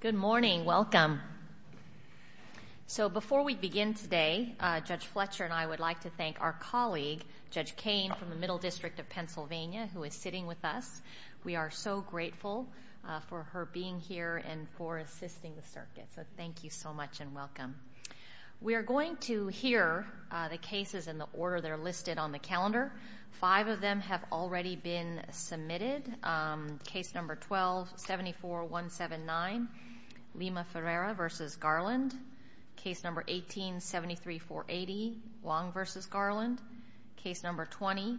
Good morning. Welcome. So before we begin today, Judge Fletcher and I would like to thank our colleague Judge Kane from the Middle District of Pennsylvania, who is sitting with us. We are so grateful for her being here and for assisting the circuit. So thank you so much and welcome. We're going to hear the cases in the order. They're listed on the calendar. Five of them have already been heard. Case number 18, 170479, Lima Ferreira v. Garland. Case number 18, 173480, Wong v. Garland. Case number 20,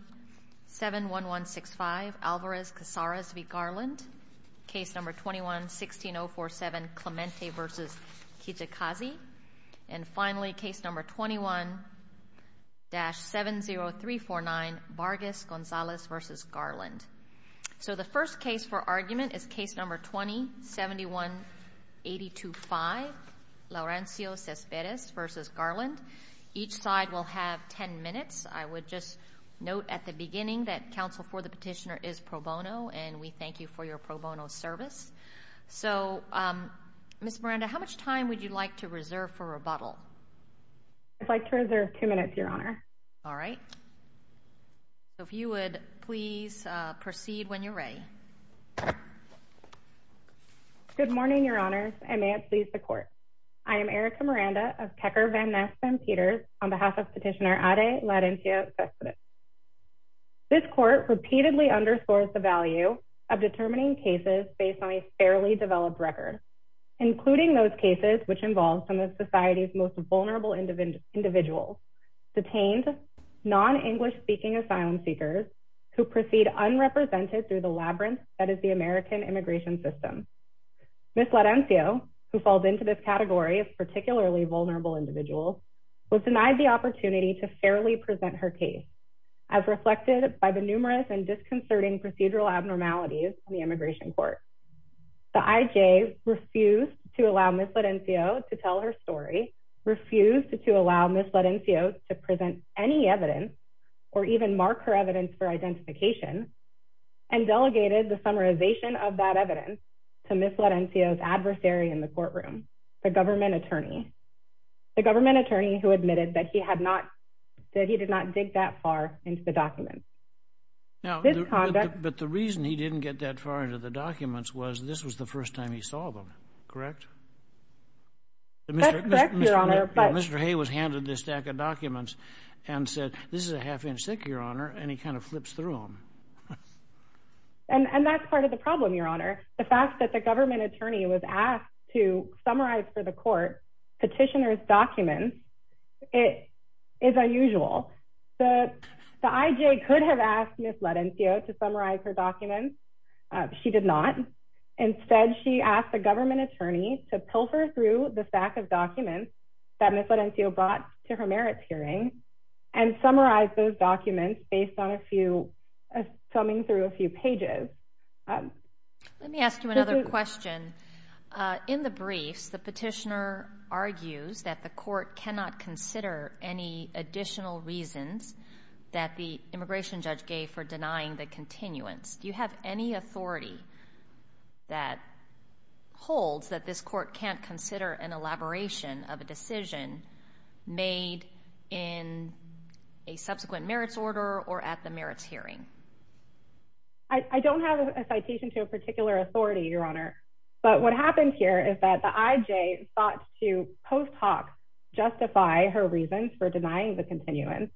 71165, Alvarez-Casares v. Garland. Case number 21, 16047, Clemente v. Kijikazi. And finally, case number 21-70349, Vargas-Gonzalez v. Garland. So the first case for argument is case number 20-71825, Laurencio Cespedes v. Garland. Each side will have 10 minutes. I would just note at the beginning that counsel for the petitioner is pro bono and we thank you for your pro bono service. So, Ms. Miranda, how much time would you like to reserve for rebuttal? I'd like to reserve two minutes, Your Honor. All right. If you would please proceed when you're ready. Good morning, Your Honors, and may it please the Court. I am Erika Miranda of Kecker Van Ness Van Peters on behalf of Petitioner Ade Laurencio Cespedes. This Court repeatedly underscores the value of determining cases based on a fairly developed record, including those cases which involved some of society's most vulnerable individuals, detained, non-English speaking asylum seekers who proceed unrepresented through the labyrinth that is the American immigration system. Ms. Laurencio, who falls into this category of particularly vulnerable individuals, was denied the opportunity to fairly present her case as reflected by the numerous and disconcerting procedural abnormalities in the immigration court. The IJ refused to allow Ms. Laurencio to tell her story, refused to allow Ms. Laurencio to even mark her evidence for identification, and delegated the summarization of that evidence to Ms. Laurencio's adversary in the courtroom, the government attorney, the government attorney who admitted that he had not that he did not dig that far into the documents. Now, but the reason he didn't get that far into the documents was this was the first time he saw them, correct? That's correct, Your Honor, but... Mr. Hay was handed this stack of documents and said, this is a half-inch stick, Your Honor, and he kind of flips through them. And that's part of the problem, Your Honor. The fact that the government attorney was asked to summarize for the court petitioner's documents, it is unusual. The IJ could have asked Ms. Laurencio to summarize her documents. She did not. Instead, she asked the government attorney to pilfer through the stack of documents that Ms. Laurencio brought to her merits hearing and summarize those documents based on a few, summing through a few pages. Let me ask you another question. In the briefs, the petitioner argues that the court cannot consider any additional reasons that the immigration judge gave for denying the continuance. Do you have any authority that holds that this court can't consider an elaboration of a decision made in a subsequent merits order or at the merits hearing? I don't have a citation to a particular authority, Your Honor, but what happened here is that the IJ sought to, post hoc, justify her reasons for denying the continuance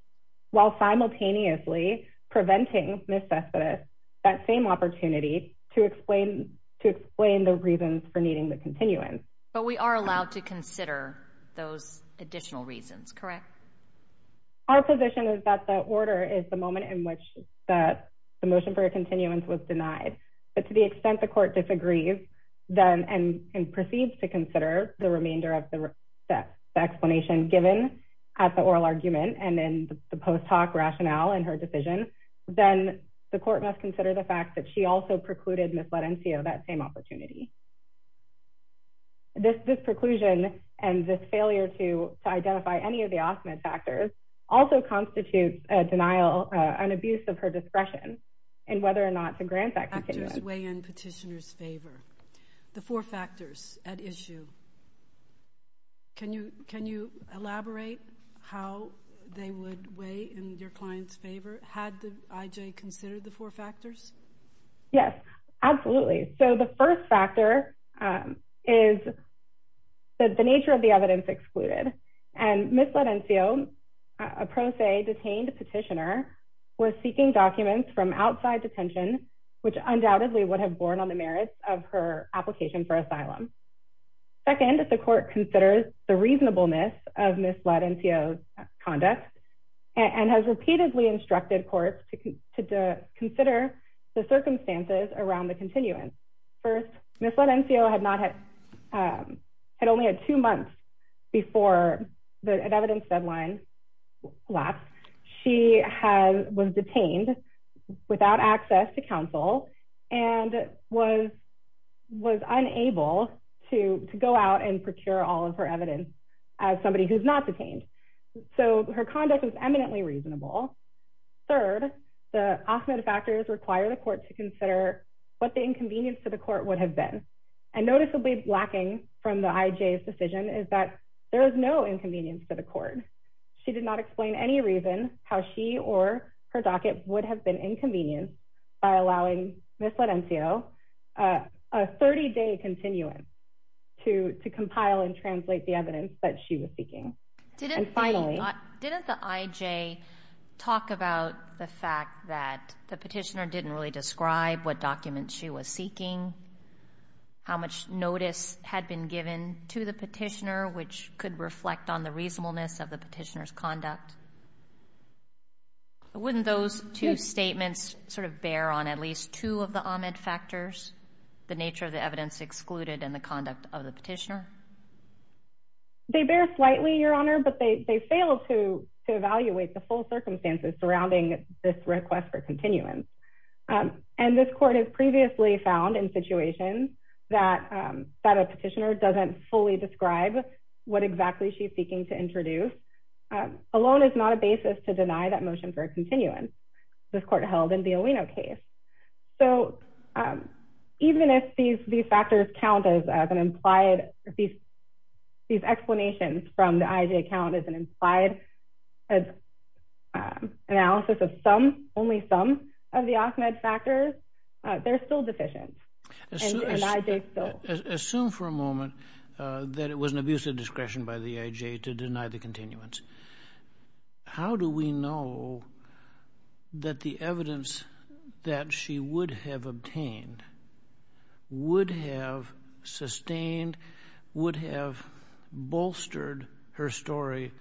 while simultaneously preventing Ms. Cespedes that same opportunity to explain the reasons for needing the continuance. But we are allowed to consider those additional reasons, correct? Our position is that the order is the moment in which the motion for a continuance was denied. But to the extent the court disagrees and proceeds to consider the remainder of the explanation given at the oral argument and in the post hoc rationale in her decision, then the court must consider the fact that she also precluded Ms. Latencio that same opportunity. This preclusion and this failure to identify any of the off-med factors also constitutes a denial, an abuse of her discretion in whether or not to grant that continuance. Factors weigh in petitioner's favor. The four factors at issue. Can you elaborate how they would weigh in your client's favor, had the IJ considered the four factors? Yes, absolutely. So the first factor is that the nature of the evidence excluded. And Ms. Latencio, a pro se detained petitioner, was seeking documents from outside detention, which undoubtedly would have borne on the merits of her application for asylum. Second, if the court considers the reasonableness of Ms. Latencio's conduct and has repeatedly instructed courts to consider the circumstances around the continuance. First, Ms. Latencio had only had two months before the evidence deadline lapsed. She was detained without access to counsel and was unable to go out and procure all of her evidence as somebody who's not detained. So her conduct was eminently reasonable. Third, the off-med factors require the court to consider what the inconvenience to the court would have been. And noticeably lacking from the IJ's decision is that there is no inconvenience for the court. She did not explain any reason how she or her a 30-day continuance to compile and translate the evidence that she was seeking. Did the IJ talk about the fact that the petitioner didn't really describe what documents she was seeking? How much notice had been given to the petitioner, which could reflect on the reasonableness of the petitioner's conduct? Wouldn't those two statements sort of bear on at least two of the off-med factors, the nature of the evidence excluded and the conduct of the petitioner? They bear slightly, Your Honor, but they failed to evaluate the full circumstances surrounding this request for continuance. And this court has previously found in situations that a petitioner doesn't fully describe what exactly she's seeking to introduce, alone is not a basis to deny that motion for a continuance. This court held in the Owino case. So even if these factors count as an implied, if these explanations from the IJ count as an implied analysis of some, only some, of the off-med factors, they're still deficient. Assume for a moment that it was an abuse of discretion by the IJ to deny the that the evidence that she would have obtained would have sustained, would have bolstered her story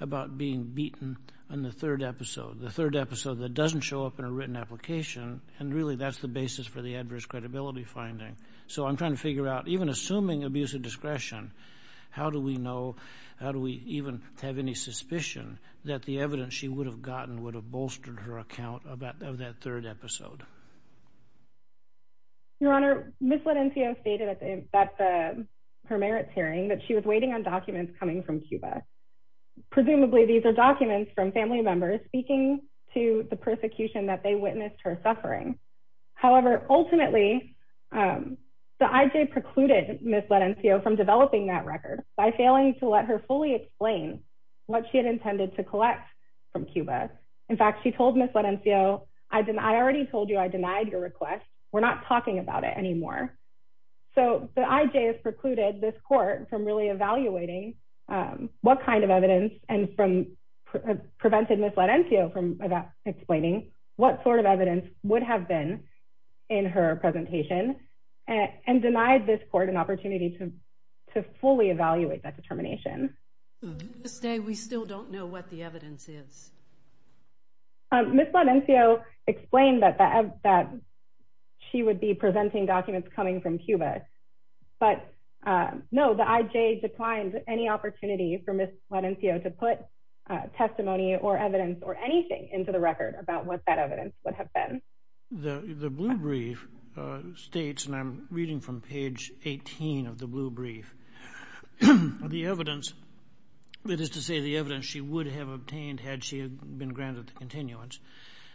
about being beaten in the third episode, the third episode that doesn't show up in a written application, and really that's the basis for the adverse credibility finding. So I'm trying to figure out, even assuming abuse of discretion, how do we know, how do we even have any suspicion that the evidence she would have gotten would have bolstered her account of that third episode? Your Honor, Ms. Lenencio stated at her merits hearing that she was waiting on documents coming from Cuba. Presumably, these are documents from family members speaking to the persecution that they witnessed her suffering. However, ultimately, the IJ precluded Ms. Lenencio from developing that record by failing to let her fully explain what she had intended to collect from Cuba. In fact, she told Ms. Lenencio, I already told you I denied your request. We're not talking about it anymore. So the IJ has precluded this court from really evaluating what kind of evidence, and prevented Ms. Lenencio from explaining what sort of evidence would have been in her presentation, and denied this court an opportunity to fully evaluate that determination. Ms. Day, we still don't know what the evidence is. Ms. Lenencio explained that she would be presenting documents coming from Cuba. But no, the IJ declined any opportunity for Ms. Lenencio to put testimony or evidence or anything into the record about what that evidence would have been. The blue brief states, and I'm reading from page 18 of the blue brief, the evidence, that is to say the evidence she would have obtained had she been granted the continuance.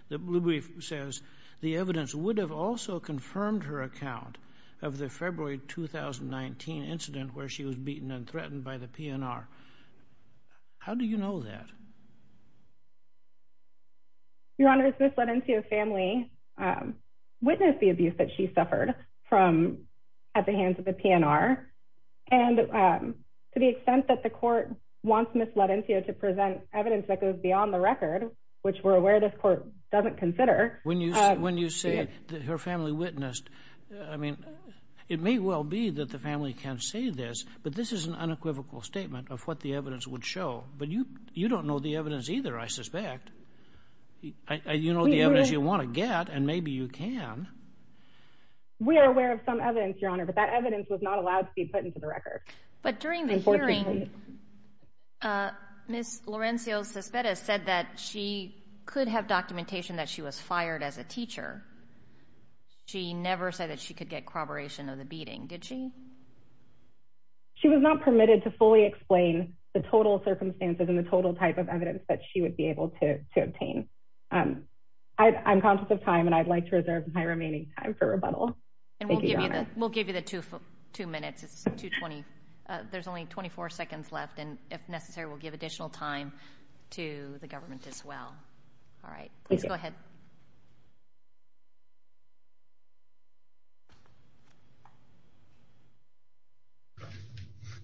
The blue brief says the evidence would have also confirmed her account of the February 2019 incident where she was beaten and threatened by the PNR. How do you know that? Your Honor, Ms. Lenencio's family witnessed the abuse that she suffered from at the hands of the PNR. And to the extent that the court wants Ms. Lenencio to present evidence that goes beyond the record, which we're aware this court doesn't consider. When you say that her family witnessed, I mean, it may well be that the family can say this, but this is an unequivocal statement of what the evidence would show. But you don't know the evidence either, I suspect. You know the evidence you want to get, and maybe you can. We are aware of some evidence, Your Honor, but that evidence was not allowed to be put into the record. But during the hearing, Ms. Lenencio's suspect has said that she could have documentation that she was fired as a teacher. She never said that she could get corroboration of the beating, did she? She was not permitted to fully explain the total circumstances and the total type of evidence that she would be able to obtain. I'm conscious of time, and I'd like to reserve my remaining time for rebuttal. And we'll give you the two minutes. It's 2.20. There's only 24 seconds left, and if necessary, we'll give additional time to the government as well. All right, please go ahead.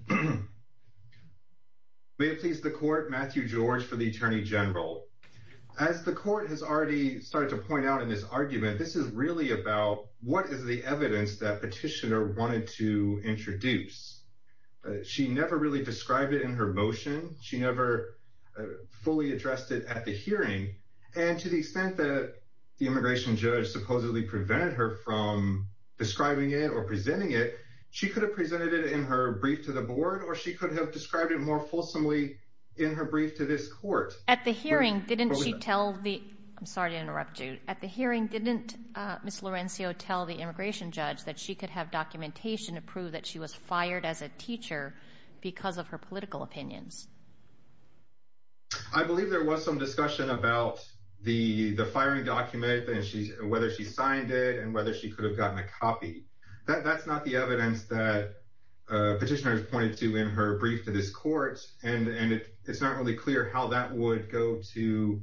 May it please the court, Matthew George for the Attorney General. As the court has already started to point out in this argument, this is really about what is the evidence that Petitioner wanted to introduce. She never really described it in her motion. She never fully addressed it at the hearing. And to the extent that the immigration judge supposedly prevented her from describing it or presenting it, she could have presented it in her brief to the board, or she could have described it more fulsomely in her brief to this court. At the hearing, didn't she tell the... I'm sorry to interrupt you. At the hearing, didn't Ms. Laurencio tell the immigration judge that she could have documentation to prove that she was fired as a teacher because of her political opinions? I believe there was some discussion about the firing document, whether she could have gotten a copy. That's not the evidence that Petitioner has pointed to in her brief to this court, and it's not really clear how that would go to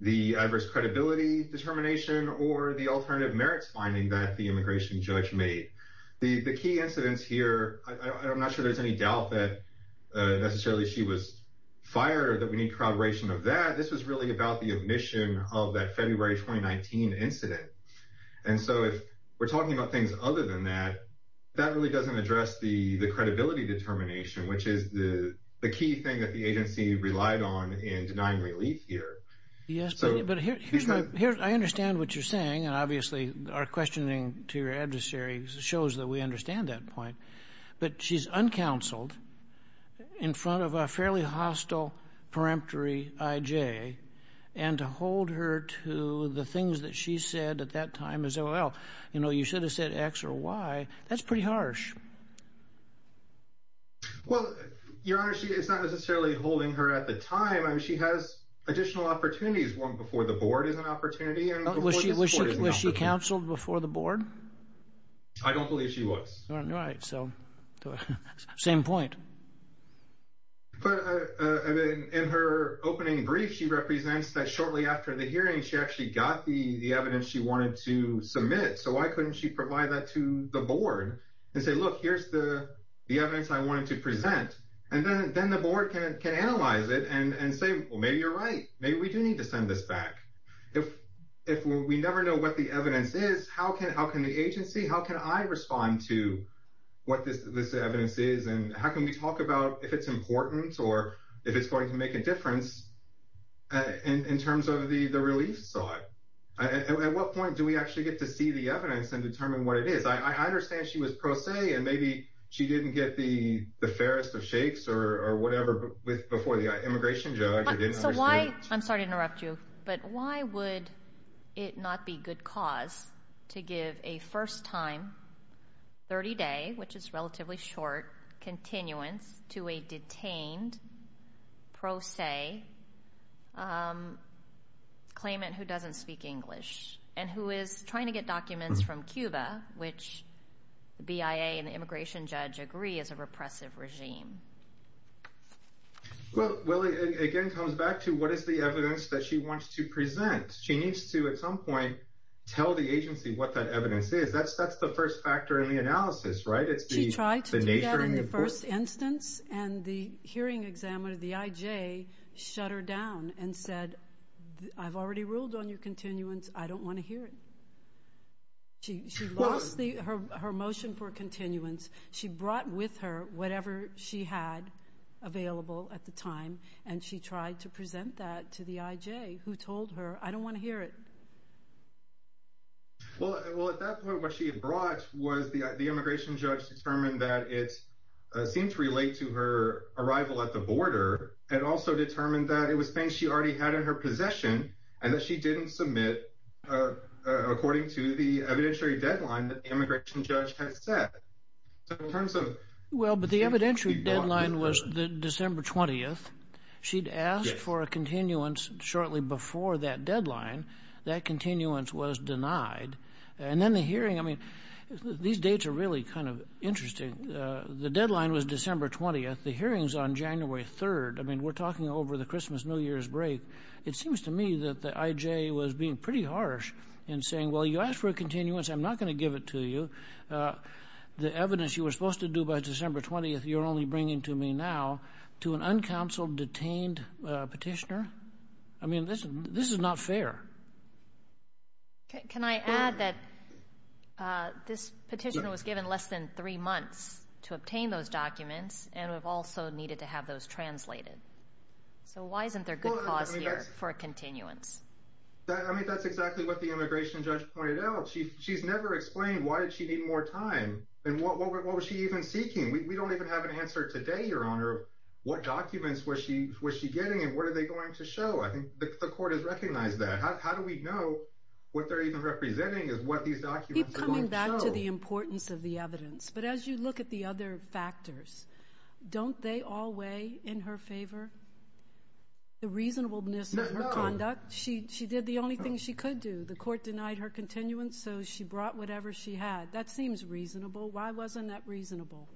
the adverse credibility determination or the alternative merits finding that the immigration judge made. The key incidents here, I'm not sure there's any doubt that necessarily she was fired or that we need corroboration of that. This was really about the omission of that February 2019 incident. And so if we're talking about things other than that, that really doesn't address the credibility determination, which is the key thing that the agency relied on in denying relief here. Yes, but I understand what you're saying, and obviously our questioning to your adversary shows that we understand that point, but she's uncounseled in front of a fairly hostile, peremptory IJ, and to hold her to the things that she said at that time is, well, you know, you should have said X or Y. That's pretty harsh. Well, Your Honor, she is not necessarily holding her at the time. I mean, she has additional opportunities. One before the board is an opportunity. Was she counseled before the board? I don't believe she was. Right. So same point. But in her opening brief, she represents that shortly after the hearing, she actually got the evidence she wanted to submit. So why couldn't she provide that to the board and say, look, here's the evidence I wanted to present, and then the board can analyze it and say, well, maybe you're right, maybe we do need to send this back. If we never know what the evidence is, how can the agency, how can I respond to what this evidence is, and how can we talk about if it's important or if it's going to make a difference in terms of the relief side? At what point do we actually get to see the evidence and determine what it is? I understand she was pro se, and maybe she didn't get the fairest of shakes or whatever before the immigration judge. I'm sorry to interrupt you, but why would it not be good cause to give a first time, 30 day, which is relatively short, continuance to a detained pro se claimant who doesn't speak English and who is trying to get documents from Cuba, which the BIA and the immigration judge agree is a repressive regime? Well, it again comes back to what is the evidence that she wants to present? She needs to, at some point, tell the agency what that evidence is. That's the first factor in the analysis, right? She tried to do that in the first instance, and the hearing examiner, the IJ, shut her down and said, I've already ruled on your continuance. I don't want to hear it. She lost her motion for continuance. She brought with her whatever she had available at the time, and she tried to present that to the IJ, who told her, I don't want to hear it. Well, at that point, what she had brought was the immigration judge determined that it seemed to relate to her arrival at the border and also determined that it was things she already had in her possession and that she didn't submit according to the evidentiary deadline that the immigration judge had set. Well, but the evidentiary deadline was December 20th. She'd asked for a continuance shortly before that deadline. That continuance was denied. And then the hearing, I mean, these dates are really kind of interesting. The deadline was December 20th. The hearing's on January 3rd. I mean, we're talking over the Christmas, New Year's break. It seems to me that the IJ was being pretty harsh in saying, well, you asked for a continuance. I'm not going to give it to you. The evidence you were supposed to do by December 20th, you're only bringing to me a detained petitioner. I mean, this is not fair. Can I add that this petition was given less than three months to obtain those documents and we've also needed to have those translated. So why isn't there good cause here for a continuance? I mean, that's exactly what the immigration judge pointed out. She she's never explained why did she need more time and what was she even seeking? We don't even have an answer today, Your Honor, of what documents was she was she getting and what are they going to show? I think the court has recognized that. How do we know what they're even representing is what these documents are going to show? Keep coming back to the importance of the evidence. But as you look at the other factors, don't they all weigh in her favor? The reasonableness of her conduct, she she did the only thing she could do. The court denied her continuance, so she brought whatever she had. That seems reasonable. Why wasn't that reasonable?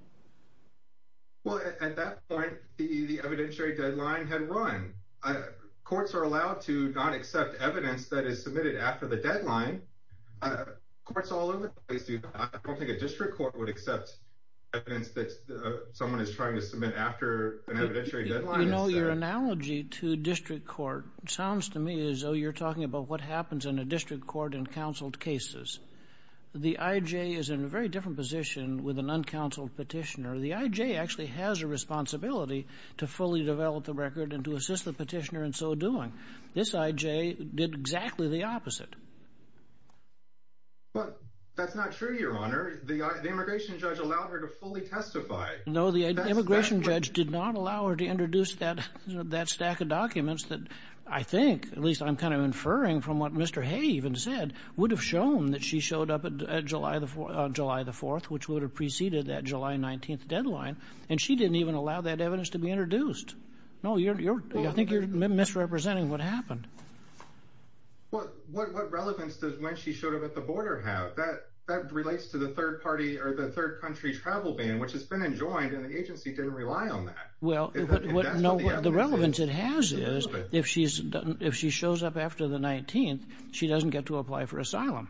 Well, at that point, the evidentiary deadline had run. Courts are allowed to not accept evidence that is submitted after the deadline. Courts all over the place do that. I don't think a district court would accept evidence that someone is trying to submit after an evidentiary deadline. You know, your analogy to district court sounds to me as though you're talking about what happens in a district court in counseled cases. The IJ is in a very different position with an uncounseled petitioner. The IJ actually has a responsibility to fully develop the record and to assist the petitioner in so doing. This IJ did exactly the opposite. But that's not true, Your Honor. The immigration judge allowed her to fully testify. No, the immigration judge did not allow her to introduce that stack of documents that I think, at least I'm kind of inferring from what Mr. She showed up at July the July the 4th, which would have preceded that July 19th deadline. And she didn't even allow that evidence to be introduced. No, you're you're I think you're misrepresenting what happened. Well, what relevance does when she showed up at the border have that that relates to the third party or the third country travel ban, which has been enjoined and the agency didn't rely on that? Well, the relevance it has is if she's if she shows up after the 19th, she doesn't get to apply for asylum.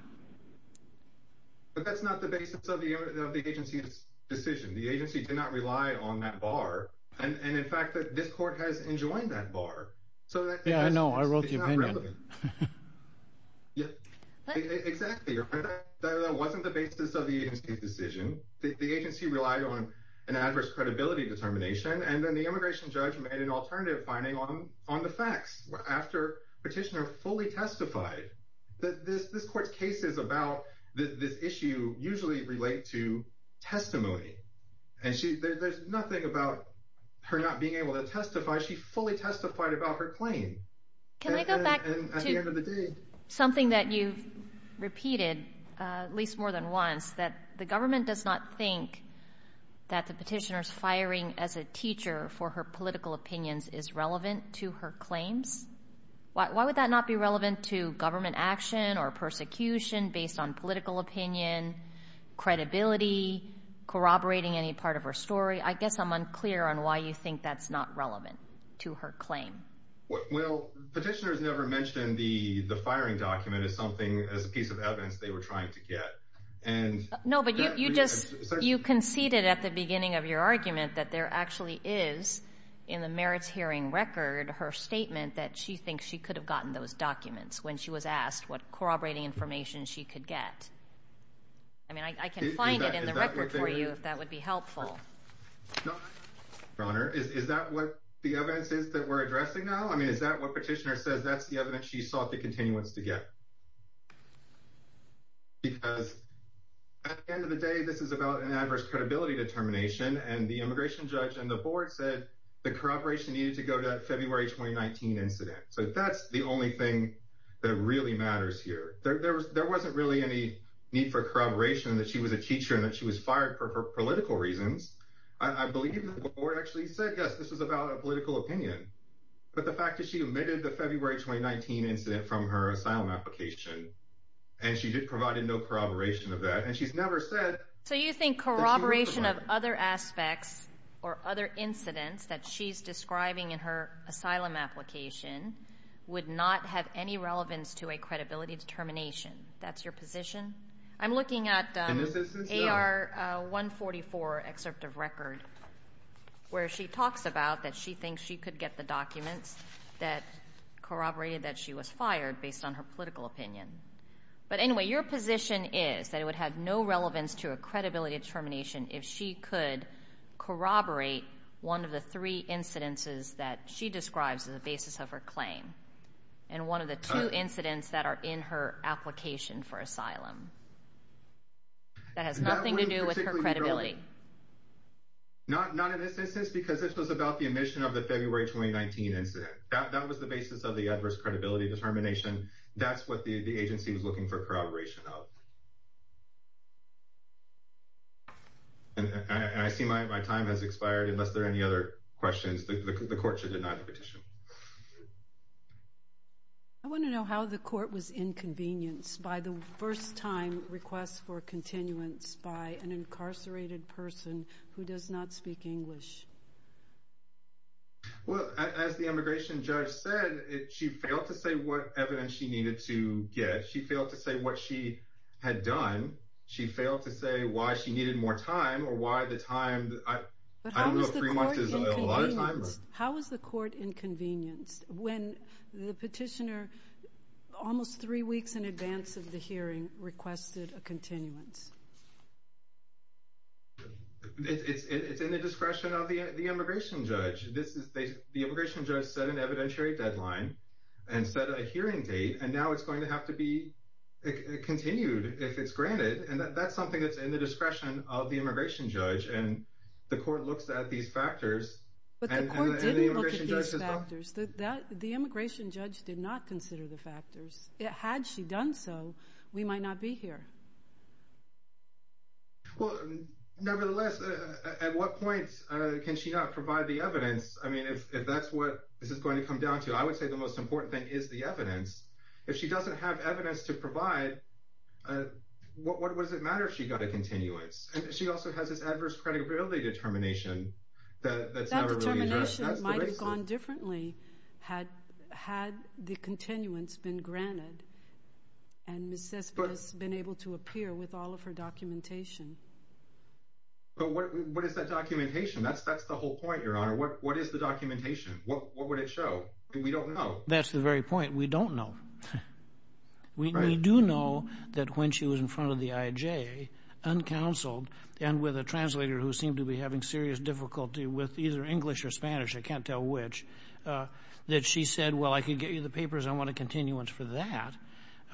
But that's not the basis of the of the agency's decision, the agency did not rely on that bar. And in fact, this court has enjoined that bar. So, yeah, I know I wrote the opinion. Yeah, exactly. That wasn't the basis of the agency's decision. The agency relied on an adverse credibility determination. And then the immigration judge made an alternative finding on on the facts after petitioner fully testified that this this court cases about this issue usually relate to testimony. And she there's nothing about her not being able to testify. She fully testified about her claim. Can I go back to something that you've repeated at least more than once, that the government does not think that the petitioners firing as a teacher for her political opinions is relevant to her claims. Why would that not be relevant to government action or persecution based on political opinion, credibility, corroborating any part of her story? I guess I'm unclear on why you think that's not relevant to her claim. Well, petitioners never mentioned the the firing document is something as a piece of evidence they were trying to get. And no, but you just you conceded at the beginning of your argument that there actually is in the merits hearing record her statement that she thinks she could have gotten those documents when she was asked what corroborating information she could get. I mean, I can find it in the record for you, if that would be helpful. Bronner, is that what the evidence is that we're addressing now? I mean, is that what petitioner says? That's the evidence she sought the continuance to get. Because at the end of the day, this is about an adverse credibility determination and the court said the corroboration needed to go to February 2019 incident. So that's the only thing that really matters here. There wasn't really any need for corroboration that she was a teacher and that she was fired for political reasons. I believe the board actually said, yes, this is about a political opinion. But the fact is she omitted the February 2019 incident from her asylum application and she did provide a no corroboration of that. And she's never said. So you think corroboration of other aspects or other incidents that she's describing in her asylum application would not have any relevance to a credibility determination? That's your position? I'm looking at AR 144 excerpt of record where she talks about that she thinks she could get the documents that corroborated that she was fired based on her political opinion. But anyway, your position is that it would have no relevance to a credibility determination if she could corroborate one of the three incidences that she describes as a basis of her claim and one of the two incidents that are in her application for asylum. That has nothing to do with her credibility. Not not in this instance, because this was about the omission of the February 2019 incident. That was the basis of the adverse credibility determination. That's what the agency was looking for corroboration of. And I see my time has expired. Unless there are any other questions, the court should deny the petition. I want to know how the court was inconvenienced by the first time request for continuance by an incarcerated person who does not speak English. Well, as the immigration judge said, she failed to say what evidence she needed to get, she failed to say what she had done, she failed to say why she needed more time or why the time I don't know if three months is a lot of time. How was the court inconvenienced when the petitioner almost three weeks in advance of the hearing requested a continuance? It's in the discretion of the immigration judge. This is the immigration judge set an evidentiary deadline and set a hearing date. And now it's going to have to be continued if it's granted. And that's something that's in the discretion of the immigration judge. And the court looks at these factors. But the court didn't look at these factors that the immigration judge did not consider the factors. Had she done so, we might not be here. Well, nevertheless, at what point can she not provide the evidence? I mean, if that's what this is going to come down to, I would say the most important thing is the evidence. If she doesn't have evidence to provide, what does it matter if she got a continuance? And she also has this adverse credibility determination that that's never really That determination might have gone differently had had the continuance been granted and Ms. Cespas been able to appear with all of her documentation. But what is that documentation? That's that's the whole point, Your Honor. What what is the documentation? What would it show? We don't know. That's the very point. We don't know. We do know that when she was in front of the IJ, uncounseled and with a translator who seemed to be having serious difficulty with either English or Spanish, I can't tell which, that she said, well, I could get you the papers. I want a continuance for that.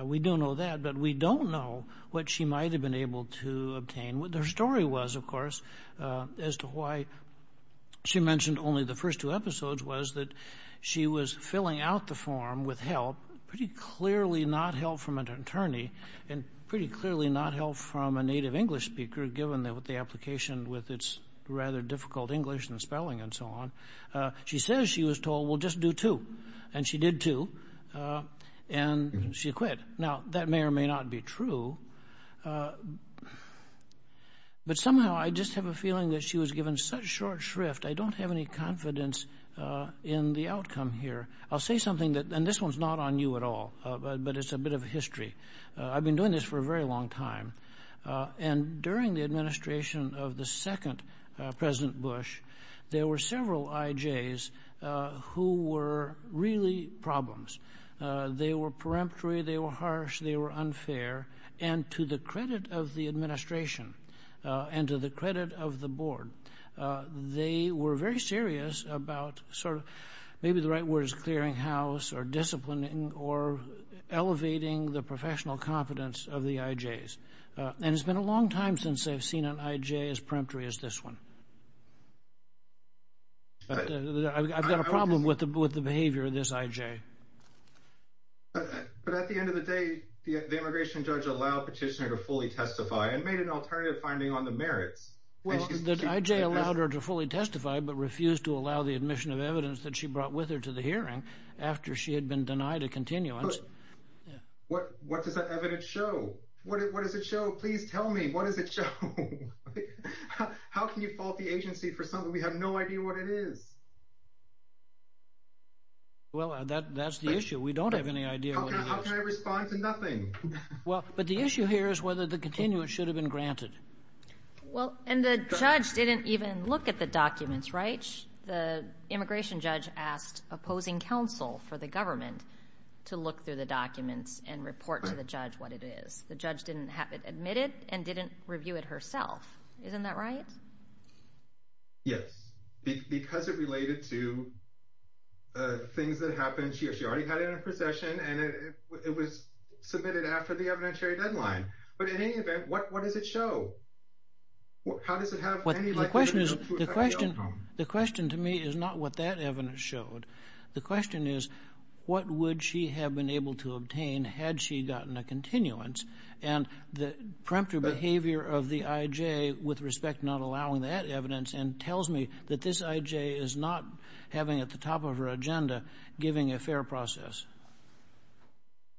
We don't know that, but we don't know what she might have been able to obtain. What their story was, of course, as to why she mentioned only the first two episodes was that she was filling out the form with help, pretty clearly not help from an attorney and pretty clearly not help from a native English speaker, given that with the application with its rather difficult English and spelling and so on. She says she was told, we'll just do two. And she did two. And she quit. Now, that may or may not be true. But somehow I just have a feeling that she was given such short shrift, I don't have any confidence in the outcome here. I'll say something that and this one's not on you at all, but it's a bit of history. I've been doing this for a very long time. And during the administration of the second President Bush, there were several IJs who were really problems. They were peremptory. They were harsh. They were unfair. And to the credit of the administration and to the credit of the board, they were very serious about sort of maybe the right word is clearing house or disciplining or elevating the professional competence of the IJs. And it's been a long time since I've seen an IJ as peremptory as this one. I've got a problem with the behavior of this IJ. But at the end of the day, the immigration judge allowed petitioner to fully testify and made an alternative finding on the merits. Well, the IJ allowed her to fully testify, but refused to allow the admission of evidence that she brought with her to the hearing after she had been denied a continuance. What what does the evidence show? What does it show? Please tell me what is it? How can you fault the agency for something we have no idea what it is? Well, that that's the issue. We don't have any idea. How can I respond to nothing? Well, but the issue here is whether the continuance should have been granted. Well, and the judge didn't even look at the documents, right? The immigration judge asked opposing counsel for the government to look through the documents and report to the judge what it is. The judge didn't have it admitted and didn't review it herself. Isn't that right? Yes, because it related to. Things that happened here, she already had it in possession and it was submitted after the evidentiary deadline. But in any event, what does it show? How does it have what the question is, the question the question to me is not what that evidence showed. The question is, what would she have been able to obtain had she gotten a continuance and the preemptive behavior of the IJ with respect, not allowing that evidence and tells me that this IJ is not having at the top of her agenda, giving a fair process.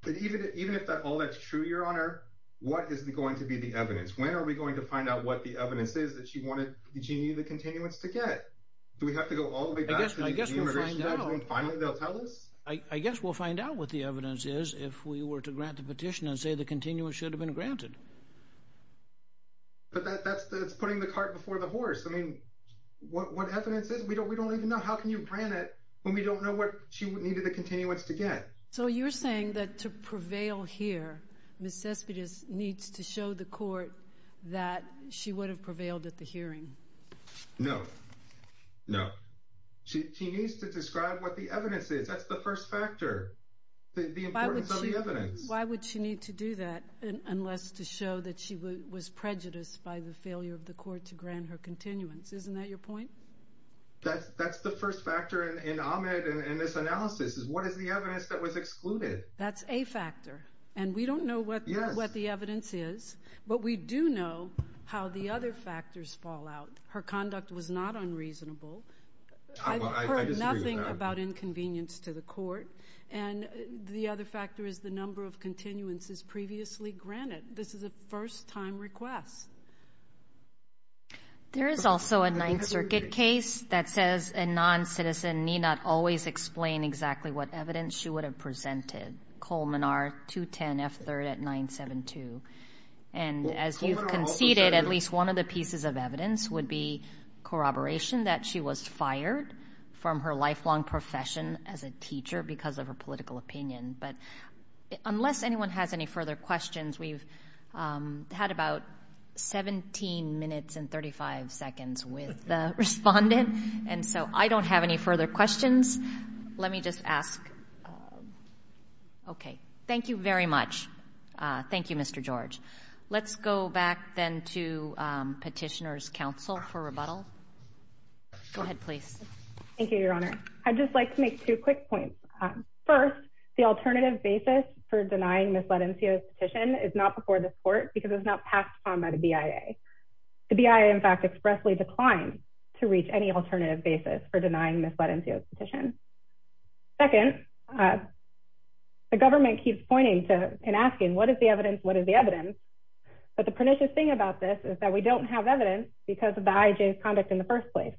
But even even if all that's true, your honor, what is going to be the evidence? When are we going to find out what the evidence is that she wanted the continuance to get? Do we have to go all the way back to the immigration judge and finally they'll tell us? I guess we'll find out what the evidence is if we were to grant the petition and say the continuance should have been granted. But that's putting the cart before the horse. I mean, what what evidence is we don't we don't even know how can you grant it when we don't know what she needed a continuance to get. So you're saying that to prevail here, Miss Cespedes needs to show the court that she would have prevailed at the hearing. No, no. She needs to describe what the evidence is. That's the first factor, the importance of the evidence. Why would she need to do that unless to show that she was prejudiced by the failure of the court to grant her continuance? Isn't that your point? That's that's the first factor in Ahmed and this analysis is what is the evidence that was excluded? That's a factor. And we don't know what what the evidence is, but we do know how the other factors fall out. Her conduct was not unreasonable. I heard nothing about inconvenience to the court. And the other factor is the number of continuances previously granted. This is a first time request. There is also a Ninth Circuit case that says a non-citizen need not always explain exactly what evidence she would have presented. Coleman are 210 F third at 972. And as you've conceded, at least one of the pieces of evidence would be corroboration that she was fired from her lifelong profession as a teacher because of her political opinion. But unless anyone has any further questions, we've had about 17 minutes and 35 seconds with the respondent. And so I don't have any further questions. Let me just ask. OK, thank you very much. Thank you, Mr. George. Let's go back then to Petitioners Council for rebuttal. Go ahead, please. Thank you, Your Honor. I'd just like to make two quick points. First, the alternative basis for denying Ms. Letencio's petition is not before the court because it's not passed on by the BIA. The BIA, in fact, expressly declined to reach any alternative basis for denying Ms. Letencio's petition. Second, the government keeps pointing to and asking, what is the evidence? What is the evidence? But the pernicious thing about this is that we don't have evidence because of the IJ's conduct in the first place.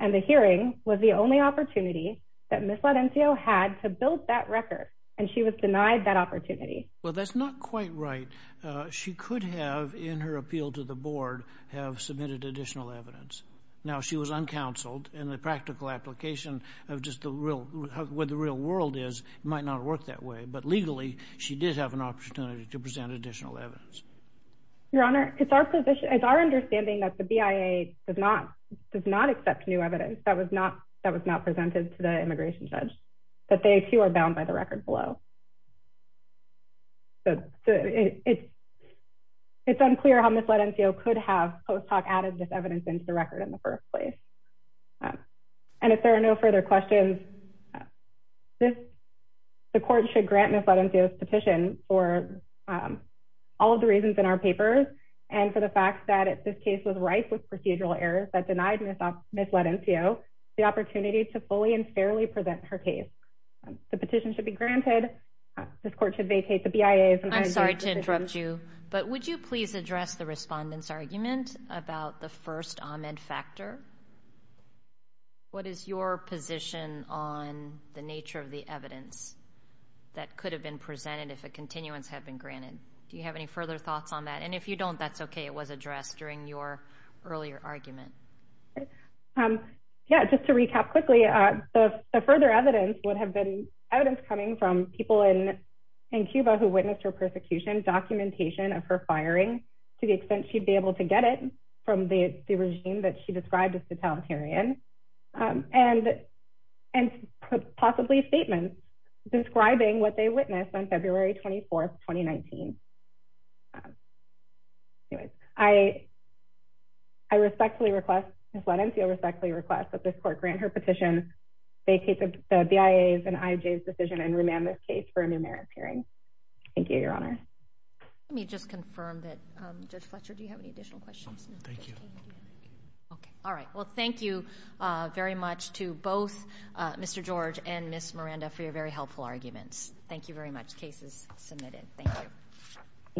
And the hearing was the only opportunity that Ms. Letencio had to build that record. And she was denied that opportunity. Well, that's not quite right. She could have, in her appeal to the board, have submitted additional evidence. Now, she was uncounseled and the practical application of just the real what the real world is might not work that way. But legally, she did have an opportunity to present additional evidence. Your Honor, it's our position, it's our understanding that the BIA does not does not accept new evidence that was not that was not presented to the immigration judge, that they too are bound by the record below. So it's it's unclear how Ms. Letencio could have post hoc added this evidence into the record in the first place. And if there are no further questions, this the court should grant Ms. Letencio's petition for all of the reasons in our papers and for the fact that this case was rife with procedural errors that denied Ms. Ms. Letencio the opportunity to fully and fairly present her case. The petition should be granted. This court should vacate the BIA. I'm sorry to interrupt you, but would you please address the respondents argument about the first Ahmed factor? What is your position on the nature of the evidence that could have been presented if a continuance had been granted? Do you have any further thoughts on that? And if you don't, that's OK. It was addressed during your earlier argument. Yeah, just to recap quickly, the further evidence would have been evidence coming from people in in Cuba who witnessed her persecution, documentation of her firing to the extent she'd be able to get it from the regime that she described as the totalitarian and and possibly statements describing what they witnessed on February 24th, 2019. I. I respectfully request Ms. Letencio respectfully request that this court grant her petition, vacate the BIA's and IJ's decision and remand this case for a new merit hearing. Thank you, Your Honor. Let me just confirm that, Judge Fletcher, do you have any additional questions? Thank you. OK. All right. Well, thank you very much to both Mr. George and Ms. Miranda for your very helpful arguments. Thank you very much. Case is submitted. Thank you. Thank you.